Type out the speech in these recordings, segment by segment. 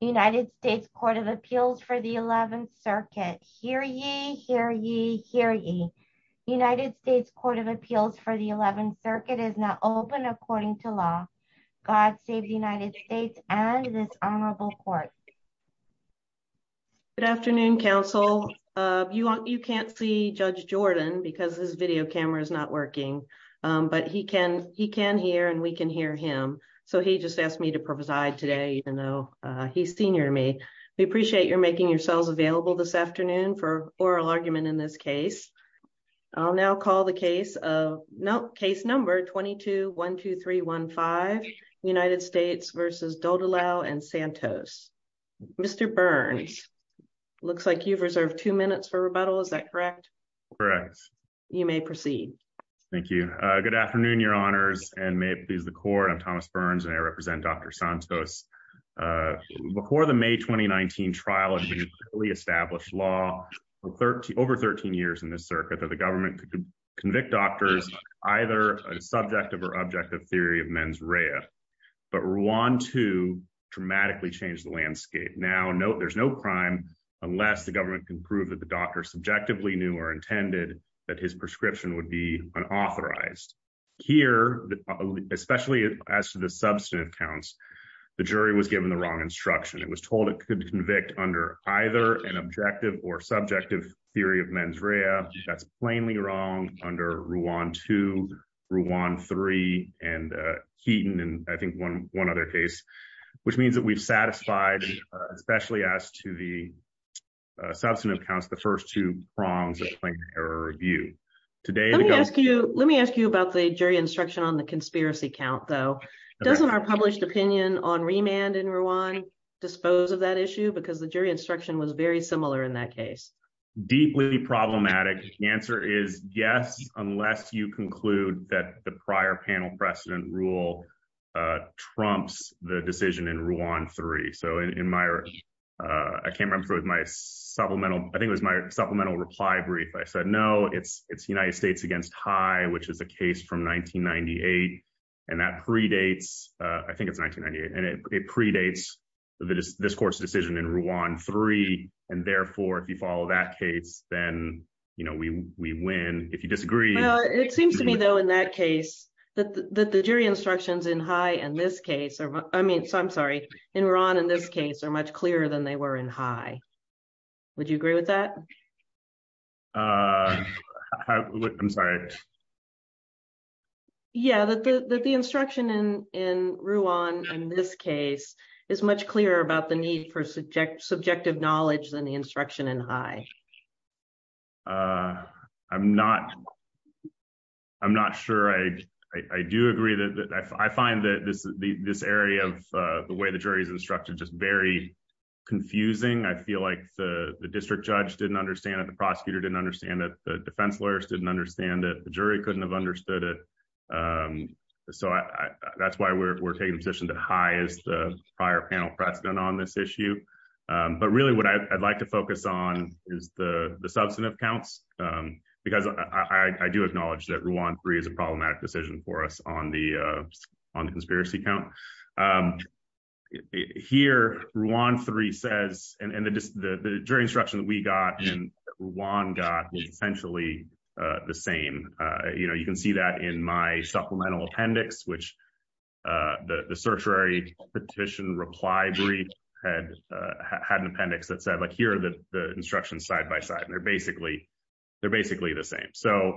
United States Court of Appeals for the 11th Circuit. Hear ye, hear ye, hear ye. United States Court of Appeals for the 11th Circuit is now open according to law. God save the United States and this honorable court. Good afternoon, counsel. You can't see Judge Jordan because his video camera is not working, but he can hear and we can hear him, so he just asked me to preside today even though he's senior to me. We appreciate your making yourselves available this afternoon for oral argument in this case. I'll now call the case of, no, case number 22-12315, United States v. Duldulao and Santos. Mr. Burns, looks like you've reserved two minutes for rebuttal, is that correct? Correct. You may proceed. Thank you. Good afternoon, your honors, and may it please the court. I'm Thomas Burns and I represent Dr. Santos. Before the May 2019 trial, a newly established law for over 13 years in this circuit that the government could convict doctors either a subjective or objective theory of mens rea, but Rwanda dramatically changed the landscape. Now, there's no crime unless the government can prove that the doctor subjectively knew or intended that his prescription would be unauthorized. Here, especially as to the substantive counts, the jury was given the wrong instruction. It was told it could convict under either an objective or subjective theory of mens rea. That's plainly wrong under Rwand 2, Rwand 3, and Heaton, and I the substantive counts, the first two prongs of Plaintiff Error Review. Let me ask you about the jury instruction on the conspiracy count, though. Doesn't our published opinion on remand in Rwand dispose of that issue? Because the jury instruction was very similar in that case. Deeply problematic. The answer is yes, unless you conclude that the prior panel precedent rule trumps the decision in Rwand 3. So in my, I can't remember my supplemental, I think it was my supplemental reply brief. I said, no, it's United States against High, which is a case from 1998. And that predates, I think it's 1998. And it predates the discourse decision in Rwand 3. And therefore, if you follow that case, then, you know, we win. If you disagree. It seems to me, though, in that case, that the jury instructions in High and this case are, I mean, so I'm sorry, in Rwand in this case are much clearer than they were in High. Would you agree with that? I'm sorry. Yeah, that the instruction in Rwand in this case is much clearer about the need for subjective knowledge than the instruction in High. Uh, I'm not. I'm not sure I, I do agree that I find that this, this area of the way the jury's instructed just very confusing. I feel like the district judge didn't understand that the prosecutor didn't understand that the defense lawyers didn't understand that the jury couldn't have understood it. So that's why we're taking a position that High is the prior panel precedent on this issue. But really, what I'd like to focus on is the substantive counts. Because I do acknowledge that Rwand 3 is a problematic decision for us on the, on the conspiracy count. Here, Rwand 3 says, and the jury instruction that we got in Rwand got is essentially the same. You know, you can see that in my supplemental appendix, which the, the certiorari petition reply brief had, had an appendix that said, like, here are the, the instructions side by side. And they're basically, they're basically the same. So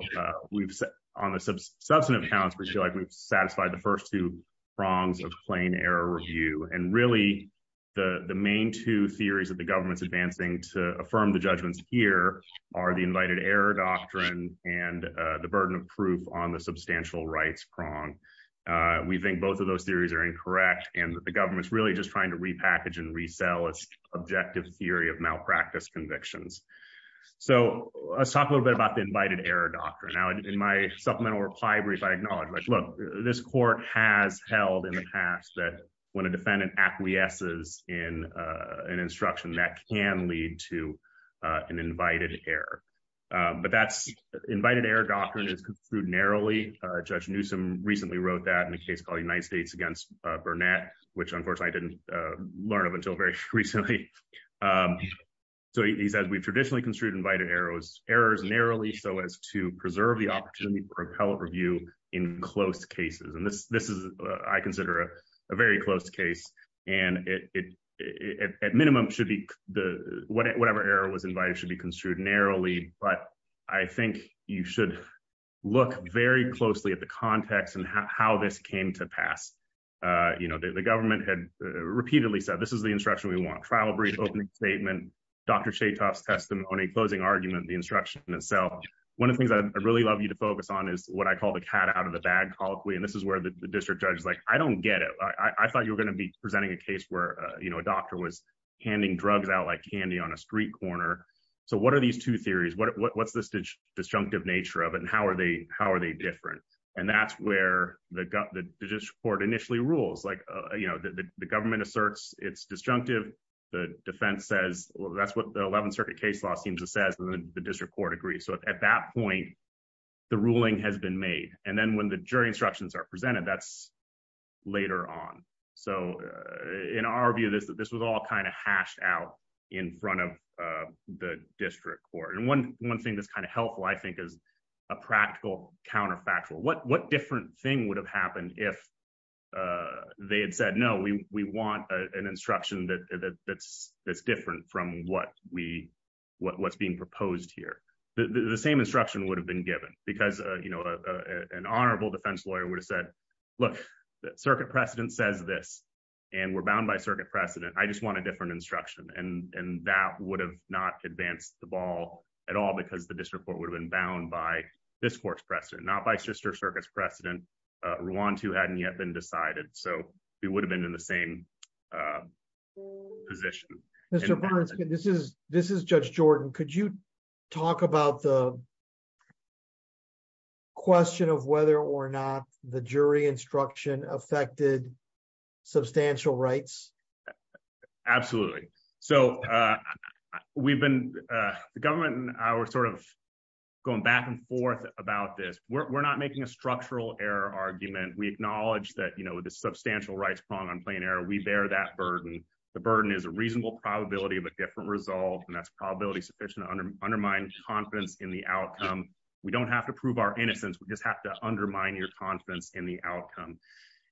we've, on the substantive counts, we feel like we've satisfied the first two prongs of plain error review. And really, the, the main two theories that the government's advancing to affirm the judgments here are the invited error doctrine and the burden of proof on the substantial rights prong. We think both of those theories are incorrect. And the government's really just trying to repackage and resell its objective theory of malpractice convictions. So let's talk a little bit about the invited error doctrine. Now, in my supplemental reply brief, I acknowledge, like, look, this court has held in the past that when a defendant acquiesces in an instruction, that can lead to an invited error. But that's, invited error doctrine is construed narrowly. Judge Newsom recently wrote that in a case called United States against Burnett, which, unfortunately, I didn't learn of until very recently. So he says, we traditionally construed invited errors narrowly so as to preserve the opportunity for appellate review in close cases. This is, I consider, a very close case. And it, at minimum, should be the, whatever error was invited should be construed narrowly. But I think you should look very closely at the context and how this came to pass. You know, the government had repeatedly said, this is the instruction we want. Trial brief, opening statement, Dr. Chetoff's testimony, closing argument, the instruction itself. One of the things I'd really love you to focus on is what I call the cat out of the bag colloquy. And this is where the district judge is like, I don't get it. I thought you were going to be presenting a case where, you know, a doctor was handing drugs out like candy on a street corner. So what are these two theories? What's this disjunctive nature of it? And how are they, how are they different? And that's where the court initially rules. Like, you know, the government asserts it's disjunctive. The defense says, well, that's what the 11th Circuit case law seems to the district court agrees. So at that point, the ruling has been made. And then when the jury instructions are presented, that's later on. So in our view, this was all kind of hashed out in front of the district court. And one thing that's kind of helpful, I think, is a practical counterfactual. What different thing would have happened if they had said, no, we want an instruction that's different from what we, what's being proposed here. The same instruction would have been given because, you know, an honorable defense lawyer would have said, look, the Circuit precedent says this, and we're bound by Circuit precedent, I just want a different instruction. And that would have not advanced the ball at all, because the district court would have been bound by this court's precedent, not by Sister Circuit's precedent. Rwanda hadn't yet been decided. So we would have been in the same position. This is Judge Jordan. Could you talk about the question of whether or not the jury instruction affected substantial rights? Absolutely. So we've been, the government and I were sort of going back and forth about this. We're not making a structural error argument. We acknowledge that, you know, the substantial rights prong on plain error, we bear that burden. The burden is a reasonable probability of a different result. And that's probability sufficient to undermine confidence in the outcome. We don't have to prove our innocence, we just have to undermine your confidence in the outcome.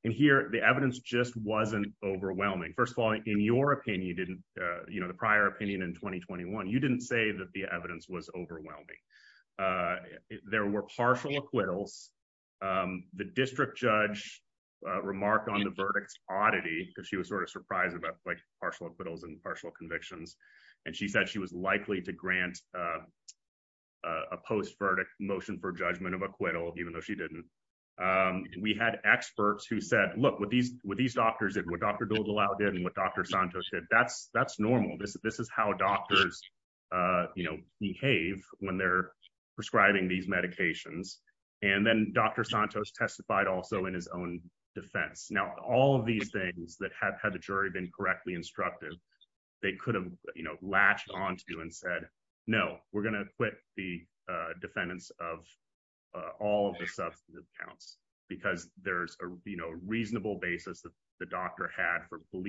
And here, the evidence just wasn't overwhelming. First of all, in your opinion, you didn't, you know, the prior opinion in 2021, you didn't say that the evidence was overwhelming. There were partial acquittals. The district judge remarked on the verdict's oddity, because she was sort of surprised about like partial acquittals and partial convictions. And she said she was likely to grant a post verdict motion for judgment of acquittal, even though she didn't. We had experts who said, look, what these doctors did, what Dr. prescribing these medications. And then Dr. Santos testified also in his own defense. Now, all of these things that have had the jury been correctly instructed, they could have, you know, latched on to and said, No, we're going to quit the defendants of all of the substantive counts, because there's a, you know, reasonable basis that the doctor had for one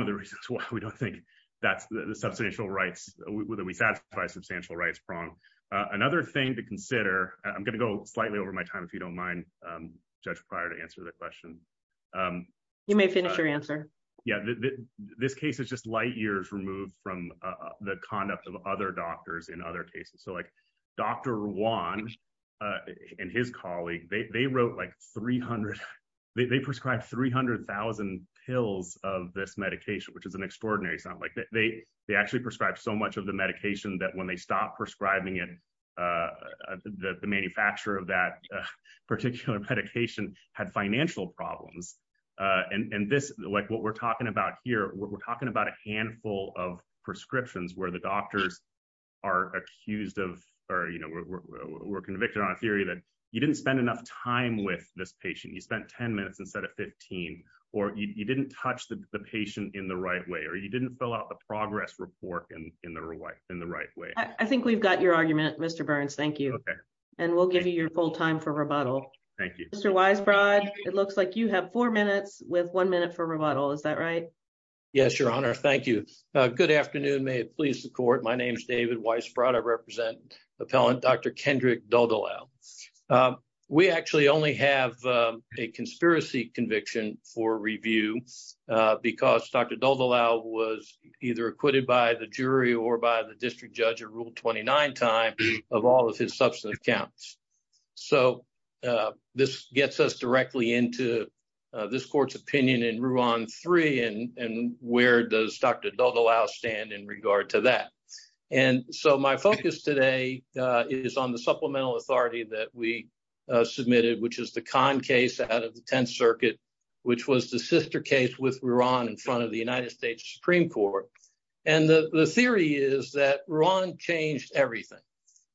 of the reasons why we don't think that's the substantial rights, whether we satisfy substantial rights prong. Another thing to consider, I'm going to go slightly over my time, if you don't mind, Judge Pryor to answer that question. You may finish your answer. Yeah, this case is just light years removed from the conduct of other doctors in other cases. So Dr. Juan, and his colleague, they wrote like 300, they prescribed 300,000 pills of this medication, which is an extraordinary sound like they, they actually prescribed so much of the medication that when they stopped prescribing it, the manufacturer of that particular medication had financial problems. And this like what we're talking about here, we're talking about a handful of prescriptions where the doctors are accused of, or, you know, we're convicted on a theory that you didn't spend enough time with this patient, you spent 10 minutes instead of 15, or you didn't touch the patient in the right way, or you didn't fill out the progress report and in the right in the right way. I think we've got your argument, Mr. Burns, thank you. And we'll give you your full time for rebuttal. Thank you, Mr. Weisbrod. It looks like you have four minutes with one minute for rebuttal. Is that right? Yes, Your Honor. Thank you. Good afternoon. May it please the court. My name is David Weisbrod. I represent appellant Dr. Kendrick Daldolau. We actually only have a conspiracy conviction for review, because Dr. Daldolau was either acquitted by the jury or by the district judge at Rule 29 time of all of his substance counts. So this gets us directly into this court's opinion in Ruan 3 and where does Dr. Daldolau stand in regard to that. And so my focus today is on the supplemental authority that we submitted, which is the Khan case out of the 10th Circuit, which was the sister case with Ruan in front of the United States Supreme Court. And the theory is that Ruan changed everything.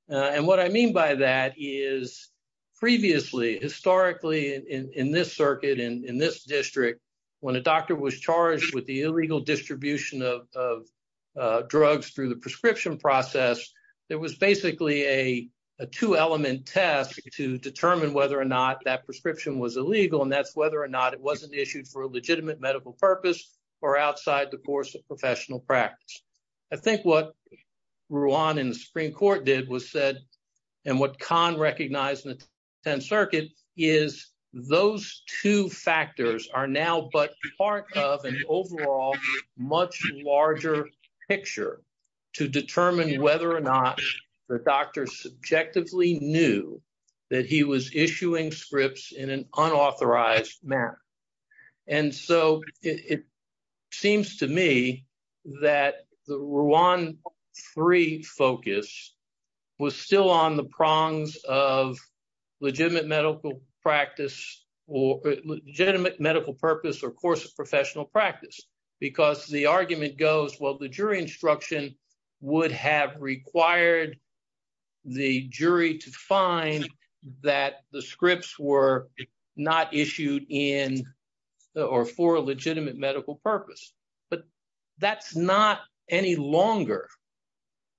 And what I mean by that is previously, historically, in this circuit, in this district, when a doctor was charged with the illegal distribution of drugs through the prescription process, there was basically a two element test to determine whether or not that prescription was illegal. And that's whether or not it wasn't issued for a legitimate medical purpose or outside the course of what Khan recognized in the 10th Circuit is those two factors are now but part of an overall much larger picture to determine whether or not the doctor subjectively knew that he was issuing scripts in an unauthorized manner. And so it seems to me that the Ruan 3 focus was still on the prongs of legitimate medical practice or legitimate medical purpose or course of professional practice. Because the argument goes, well, the jury instruction would have required the jury to find that the scripts were not issued in or for a legitimate medical purpose. But that's not any longer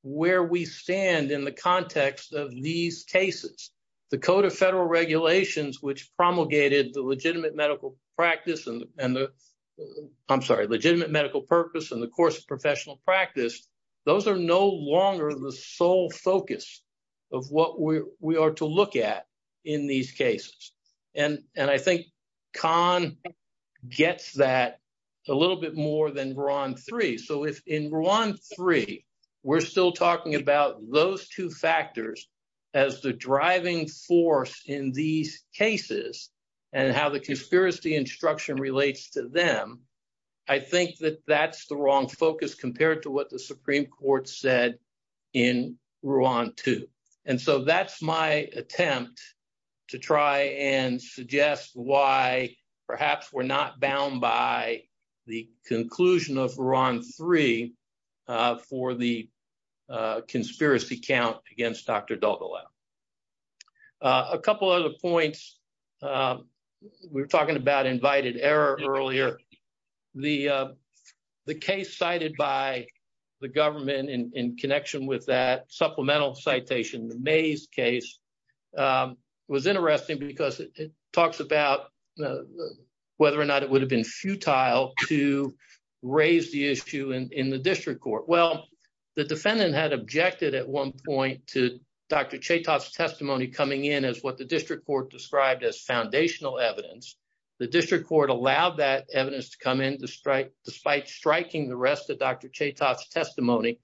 where we stand in the context of these cases, the Code of Federal Regulations, which promulgated the legitimate medical practice and the I'm sorry, legitimate medical purpose and the course of professional practice. Those are no longer the sole focus of what we are to look at in these cases. And I think Khan gets that a little bit more than Ruan 3. So if in Ruan 3, we're still talking about those two factors as the driving force in these cases and how the conspiracy instruction relates to them, I think that that's the wrong focus compared to what the Supreme Court said in Ruan 2. And so that's my attempt to try and suggest why perhaps we're not bound by the conclusion of Ruan 3 for the conspiracy count against Dr. Dalgalao. A couple other points. We were talking about invited error earlier. The case cited by the government in connection with that supplemental citation, the Mays case, was interesting because it talks about whether or not it would have been futile to raise the issue in the district court. Well, the defendant had objected at one point to Dr. Chetoff's testimony coming in as what the district court described as foundational evidence. The district court allowed that evidence to come in despite striking the rest of Dr. Chetoff's testimony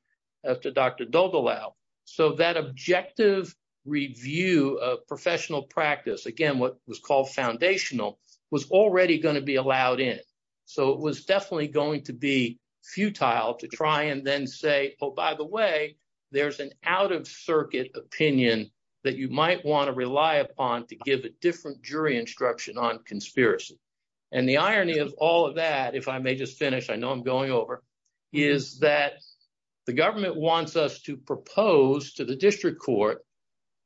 after Dr. Dalgalao. So that objective review of professional practice, again, what was called foundational, was already going to be oh, by the way, there's an out-of-circuit opinion that you might want to rely upon to give a different jury instruction on conspiracy. And the irony of all of that, if I may just finish, I know I'm going over, is that the government wants us to propose to the district court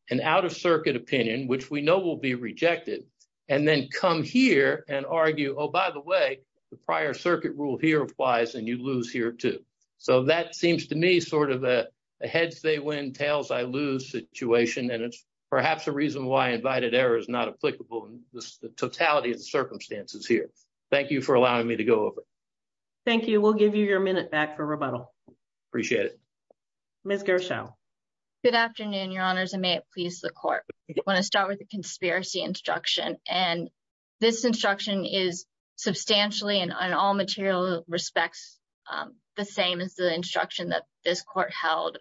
an out-of-circuit opinion, which we know will be rejected, and then come here and argue, oh, by the way, the prior circuit rule here applies, and you lose here, too. So that seems to me sort of a heads-they-win, tails-I-lose situation, and it's perhaps a reason why invited error is not applicable in the totality of the circumstances here. Thank you for allowing me to go over. Thank you. We'll give you your minute back for rebuttal. Appreciate it. Ms. Gershow. Good afternoon, Your Honors, and may it please the Court. I want to start with the conspiracy instruction, and this instruction is substantially, in all material respects, the same as the instruction that this Court held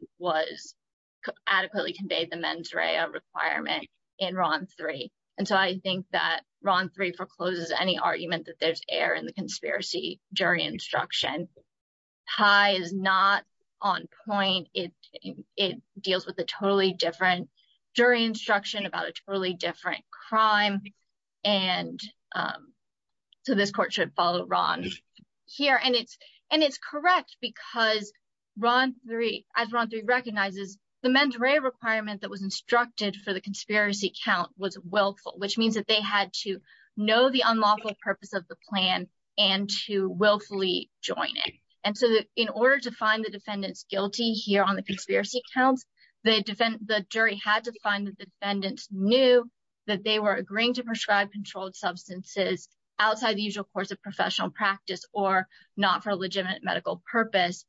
adequately conveyed the mens rea requirement in Ron 3. And so I think that Ron 3 forecloses any argument that there's error in the conspiracy jury instruction. High is not on point. It deals with a totally different jury instruction about a totally different crime, and so this Court should follow Ron here. And it's correct because as Ron 3 recognizes, the mens rea requirement that was instructed for the conspiracy count was willful, which means that they had to know the unlawful purpose of the plan and to willfully join it. And so in order to find the defendants guilty here on the conspiracy counts, the jury had to find that the defendants knew that they were agreeing to prescribe controlled substances outside the usual course of professional practice or not for a legitimate medical purpose.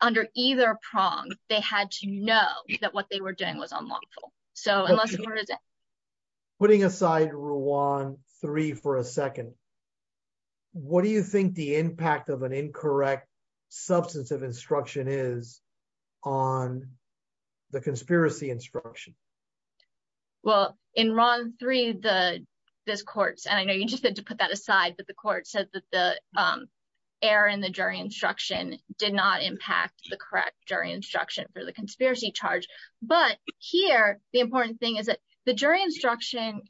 Under either prong, they had to know that what they were doing was unlawful. So unless the Court is in. Putting aside Ron 3 for a second, what do you think the impact of an incorrect substance of instruction is on the conspiracy instruction? Well, in Ron 3, this Court, and I know you just said to put that aside, but the Court said that the error in the jury instruction did not impact the correct jury instruction for the conspiracy charge. But here, the important thing is that the jury instruction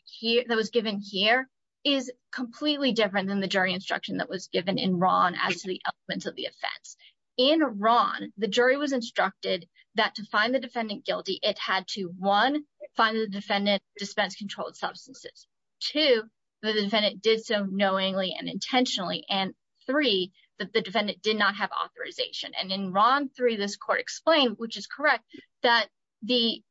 that was given here is completely different than the jury instruction that was given in Ron as to the elements of the offense. In Ron, the jury was instructed that to find the defendant guilty, it had to one, find the defendant dispense controlled substances. Two, the defendant did so knowingly and intentionally. And three, that the defendant did not have authorization. And in Ron 3, this Court explained, which is correct, that the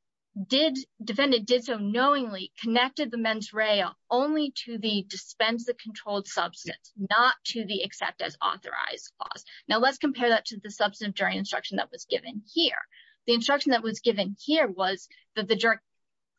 defendant did so knowingly connected the mens rea only to the dispense of controlled substance, not to the accept as authorized clause. Now let's compare that to the substantive jury instruction that was given here. The instruction that was given here was that the jury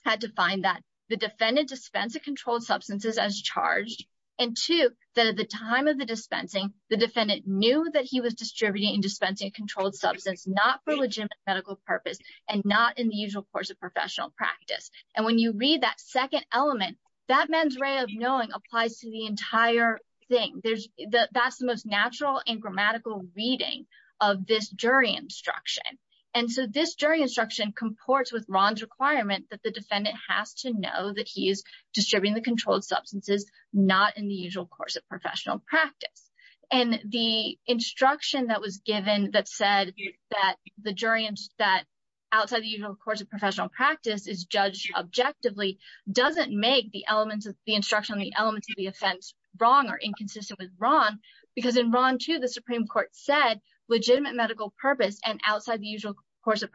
had to find that the defendant dispense of controlled substances as charged. And two, that at the time of the dispensing, the defendant knew that he was distributing and dispensing a controlled substance, not for legitimate medical purpose, and not in the usual course of professional practice. And when you read that second element, that mens rea of knowing applies to the entire thing. That's the most natural and grammatical reading of this jury instruction. And so this jury instruction comports with Ron's requirement that the defendant has to know that he is distributing the controlled substances, not in the usual course of professional practice. And the instruction that was given that said that the jury that outside the usual course of professional practice is judged objectively doesn't make the elements of the instruction on the elements of the offense wrong or inconsistent with Ron, because in Ron 2, the Supreme Court said legitimate medical purpose and outside the usual course of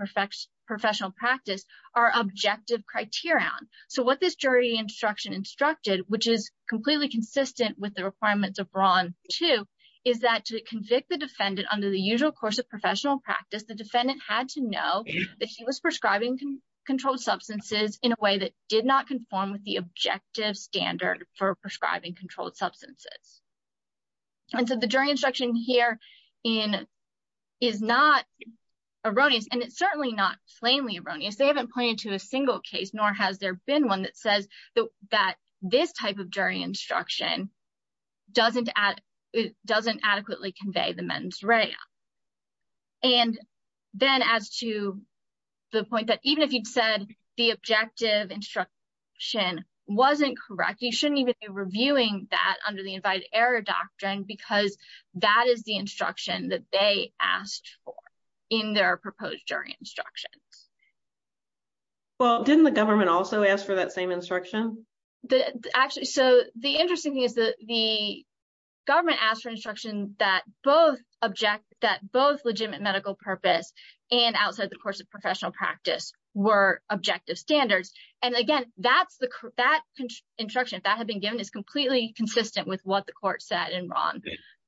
professional practice are objective criterion. So what this jury instruction instructed, which is completely inconsistent with the requirements of Ron 2, is that to convict the defendant under the usual course of professional practice, the defendant had to know that he was prescribing controlled substances in a way that did not conform with the objective standard for prescribing controlled substances. And so the jury instruction here is not erroneous, and it's certainly not plainly erroneous. They haven't pointed to a single case, nor has there been one that says that this type of jury instruction doesn't adequately convey the mens rea. And then as to the point that even if you'd said the objective instruction wasn't correct, you shouldn't even be reviewing that under the invited error doctrine, because that is the instruction that they asked for in their proposed jury instructions. Well, didn't the government also ask for that same instruction? Actually, so the interesting thing is that the government asked for instruction that both object, that both legitimate medical purpose and outside the course of professional practice were objective standards. And again, that's the, that instruction that had been given is completely consistent with what the court said in Ron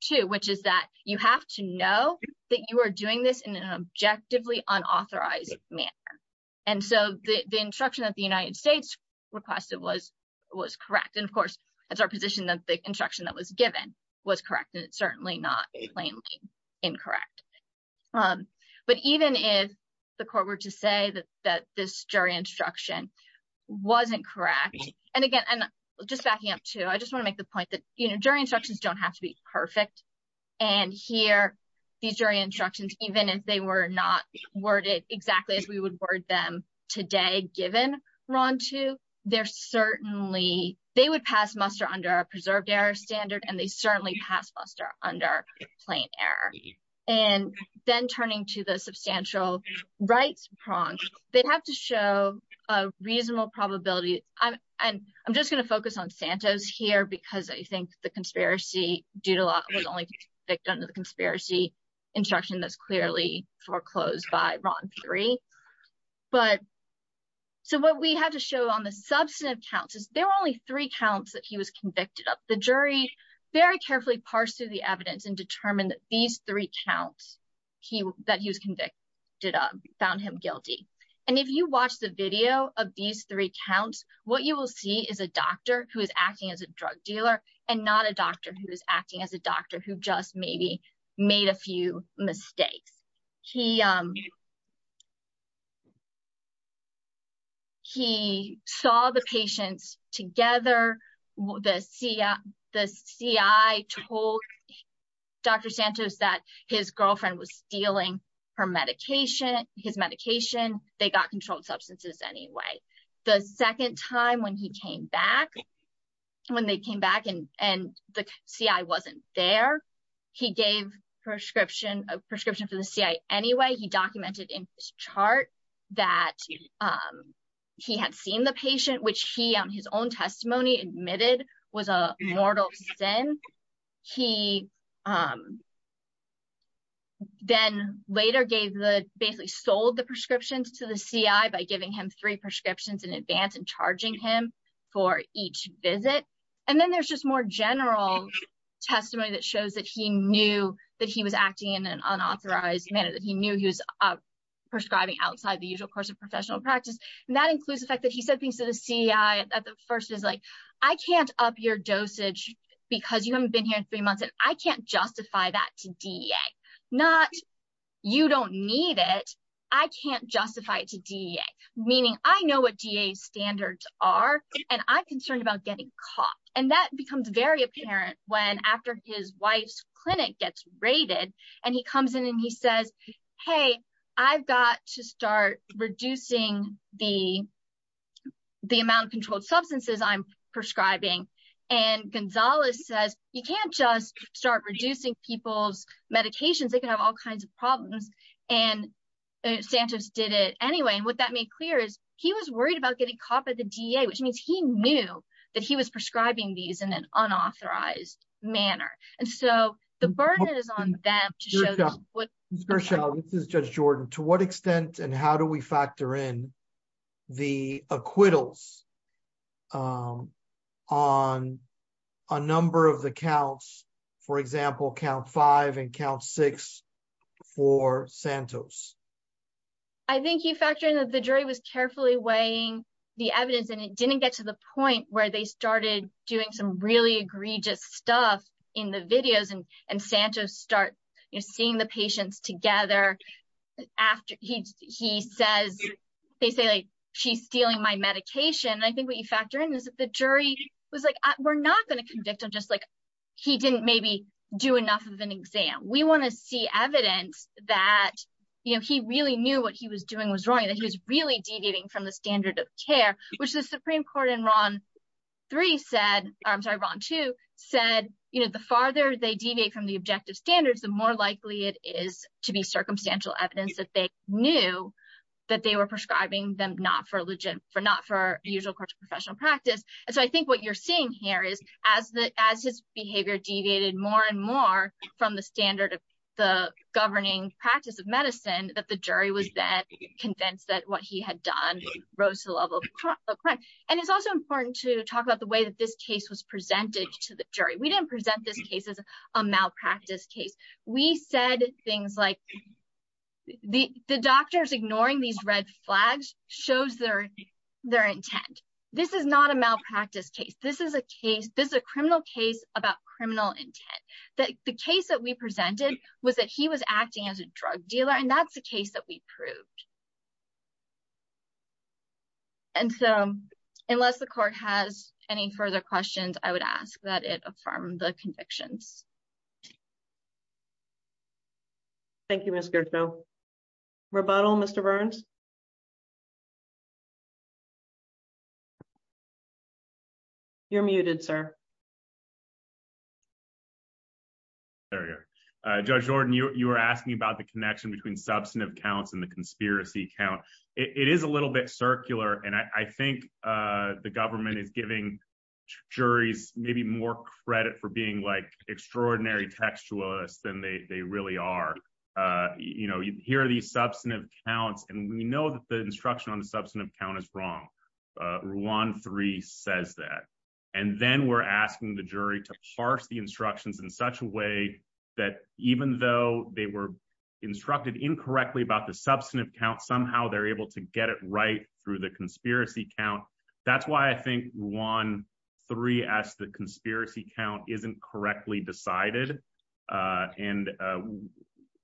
2, which is that you have to know that you are doing this in an objectively unauthorized manner. And so the instruction that the United States requested was correct. And of course, that's our position that the instruction that was given was correct, and it's certainly not plainly incorrect. But even if the court were to say that this jury instruction wasn't correct, and again, just backing up too, I just want to make the point that jury instructions don't have to be perfect. And here, these jury instructions if they were not worded exactly as we would word them today, given Ron 2, they're certainly, they would pass muster under a preserved error standard, and they certainly pass muster under plain error. And then turning to the substantial rights prong, they have to show a reasonable probability. And I'm just going to focus on Santos here, because I think the conspiracy due to law was only convicted under the conspiracy instruction that's clearly foreclosed by Ron 3. But so what we have to show on the substantive counts is there were only three counts that he was convicted of. The jury very carefully parsed through the evidence and determined that these three counts that he was convicted of found him guilty. And if you watch the video of these three counts, what you will see is a doctor who is acting as a drug dealer and not a doctor who is acting as a doctor who just maybe made a few mistakes. He saw the patients together, the CI told Dr. Santos that his girlfriend was stealing her medication, his medication, they got controlled substances anyway. The second time when he came back, when they came back and the CI wasn't there, he gave a prescription for the CI anyway. He documented in his chart that he had seen the patient, which he on his own testimony admitted was a mortal sin. He then later gave the basically sold the prescriptions to the CI by giving him three prescriptions in advance and charging him for each visit. And then there's just more general testimony that shows that he knew that he was acting in an unauthorized manner, that he knew he was prescribing outside the usual course of professional practice. And that includes the fact that he said things to the CI at the first is like, I can't up your dosage, because you haven't here in three months and I can't justify that to DEA. Not you don't need it, I can't justify it to DEA. Meaning I know what DEA standards are, and I'm concerned about getting caught. And that becomes very apparent when after his wife's clinic gets raided, and he comes in and he says, hey, I've got to start reducing the amount of controlled substances I'm prescribing. And Gonzalez says, you can't just start reducing people's medications, they can have all kinds of problems. And Sanchez did it anyway. And what that made clear is he was worried about getting caught by the DEA, which means he knew that he was prescribing these in an unauthorized manner. And so the burden is on them to show what is just Jordan, to what extent and how do we factor in the acquittals on a number of the counts, for example, count five and count six for Santos. I think he factored in that the jury was carefully weighing the evidence and it didn't get to the point where they started doing some really egregious stuff in the videos and, Sanchez start seeing the patients together after he says, they say, she's stealing my medication. And I think what you factor in is that the jury was like, we're not going to convict him just like he didn't maybe do enough of an exam. We want to see evidence that he really knew what he was doing was wrong, that he was really deviating from the standard of care, which more likely it is to be circumstantial evidence that they knew that they were prescribing them not for legit for not for usual professional practice. And so I think what you're seeing here is as his behavior deviated more and more from the standard of the governing practice of medicine, that the jury was then convinced that what he had done rose to the level of crime. And it's also important to talk about the way that this case was presented to the jury. We didn't present this case as a malpractice case. We said things like the doctors ignoring these red flags shows their intent. This is not a malpractice case. This is a case. This is a criminal case about criminal intent that the case that we presented was that he was acting as a drug dealer. And that's the case that we proved. And so unless the court has any further questions, I would ask that it affirm the convictions. Thank you, Mr. Rebuttal, Mr. Burns. You're muted, sir. Judge Jordan, you were asking about the connection between substantive counts and the conspiracy count. It is a little bit circular. And I think the government is giving juries maybe more credit for being like extraordinary textualist than they really are. You know, here are these substantive counts. And we know that the instruction on the substantive count is wrong. One, three says that. And then we're asking the jury to parse the instructions in such a way that even though they were instructed incorrectly about the substantive count, somehow they're able to get it right through the conspiracy count. That's why I think one three as the conspiracy count isn't correctly decided. And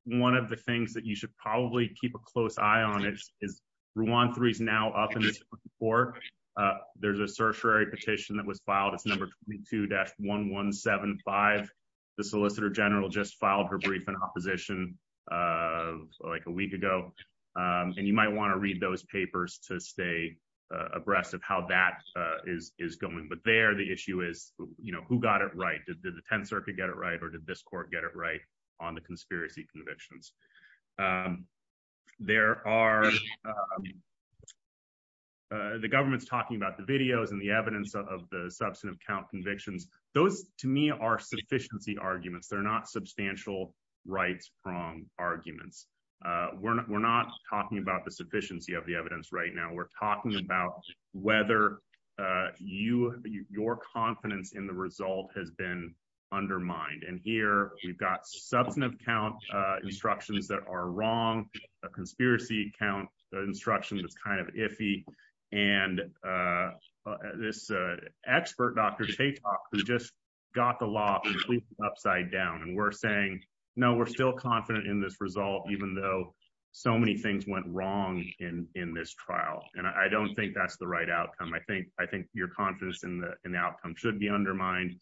one of the things that you should probably keep a close eye on is, is one three is now up for there's a tertiary petition that was filed. It's number two dash 1175. The Solicitor General just filed her brief in opposition of like a week ago. And you might want to read those papers to stay abreast of how that is going. But there the issue is, you know, who got it right? Did the 10th Circuit get it right? Or did this court get it right on the conspiracy convictions? There are the government's talking about the videos and the evidence of the substantive count convictions. Those to me are sufficiency arguments. They're not substantial rights from arguments. We're not talking about the sufficiency of the evidence right now. We're talking about whether you your confidence in the result has been undermined. And here we've got substantive count instructions that are wrong, a conspiracy count instruction that's kind of iffy. And this expert, Dr. Tate, who just got the law upside down, and we're saying, No, we're still confident in this result, even though so many things went wrong in this trial. And I don't think that's the right outcome. I think I think your confidence in the outcome should be undermined.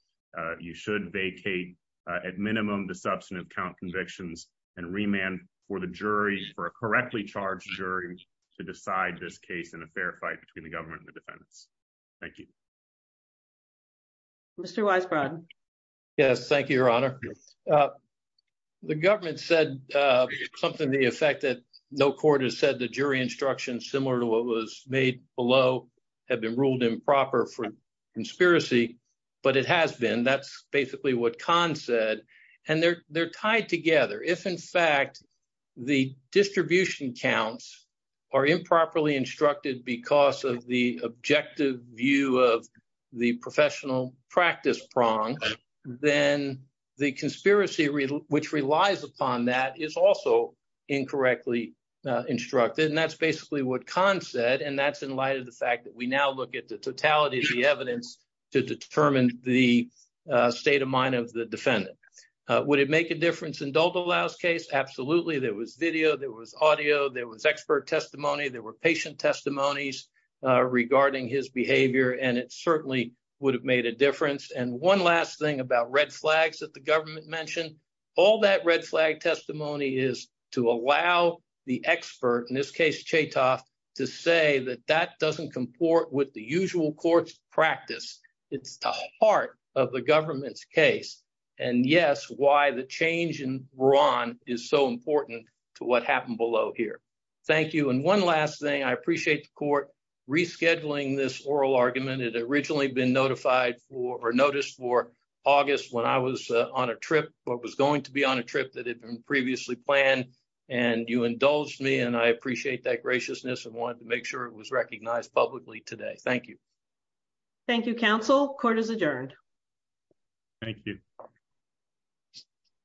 You should vacate, at minimum, the substantive count convictions and remand for the jury for a correctly charged jury to decide this case in a fair fight between the government and the defendants. Thank you. Mr. Weisbrot. Yes, thank you, Your Honor. The government said something to the effect that no court has said the jury instruction, similar to what was made below, had been ruled improper for conspiracy. But it has been. That's basically what Kahn said. And they're tied together. If, in fact, the distribution counts are improperly instructed because of the objective view of the professional practice prong, then the conspiracy, which relies upon that, is also incorrectly instructed. And that's basically what Kahn said. And that's in light of the fact that we now look at the totality of the evidence to determine the state of mind of the defendant. Would it make a difference in Dalda Lau's case? Absolutely. There was video. There was audio. There was expert testimony. There were patient about red flags that the government mentioned. All that red flag testimony is to allow the expert, in this case, Chaytoft, to say that that doesn't comport with the usual court's practice. It's the heart of the government's case. And yes, why the change in Braun is so important to what happened below here. Thank you. And one last thing. I appreciate the court rescheduling this notice for August when I was on a trip, or was going to be on a trip that had been previously planned. And you indulged me. And I appreciate that graciousness and wanted to make sure it was recognized publicly today. Thank you. Thank you, counsel. Court is adjourned. Thank you.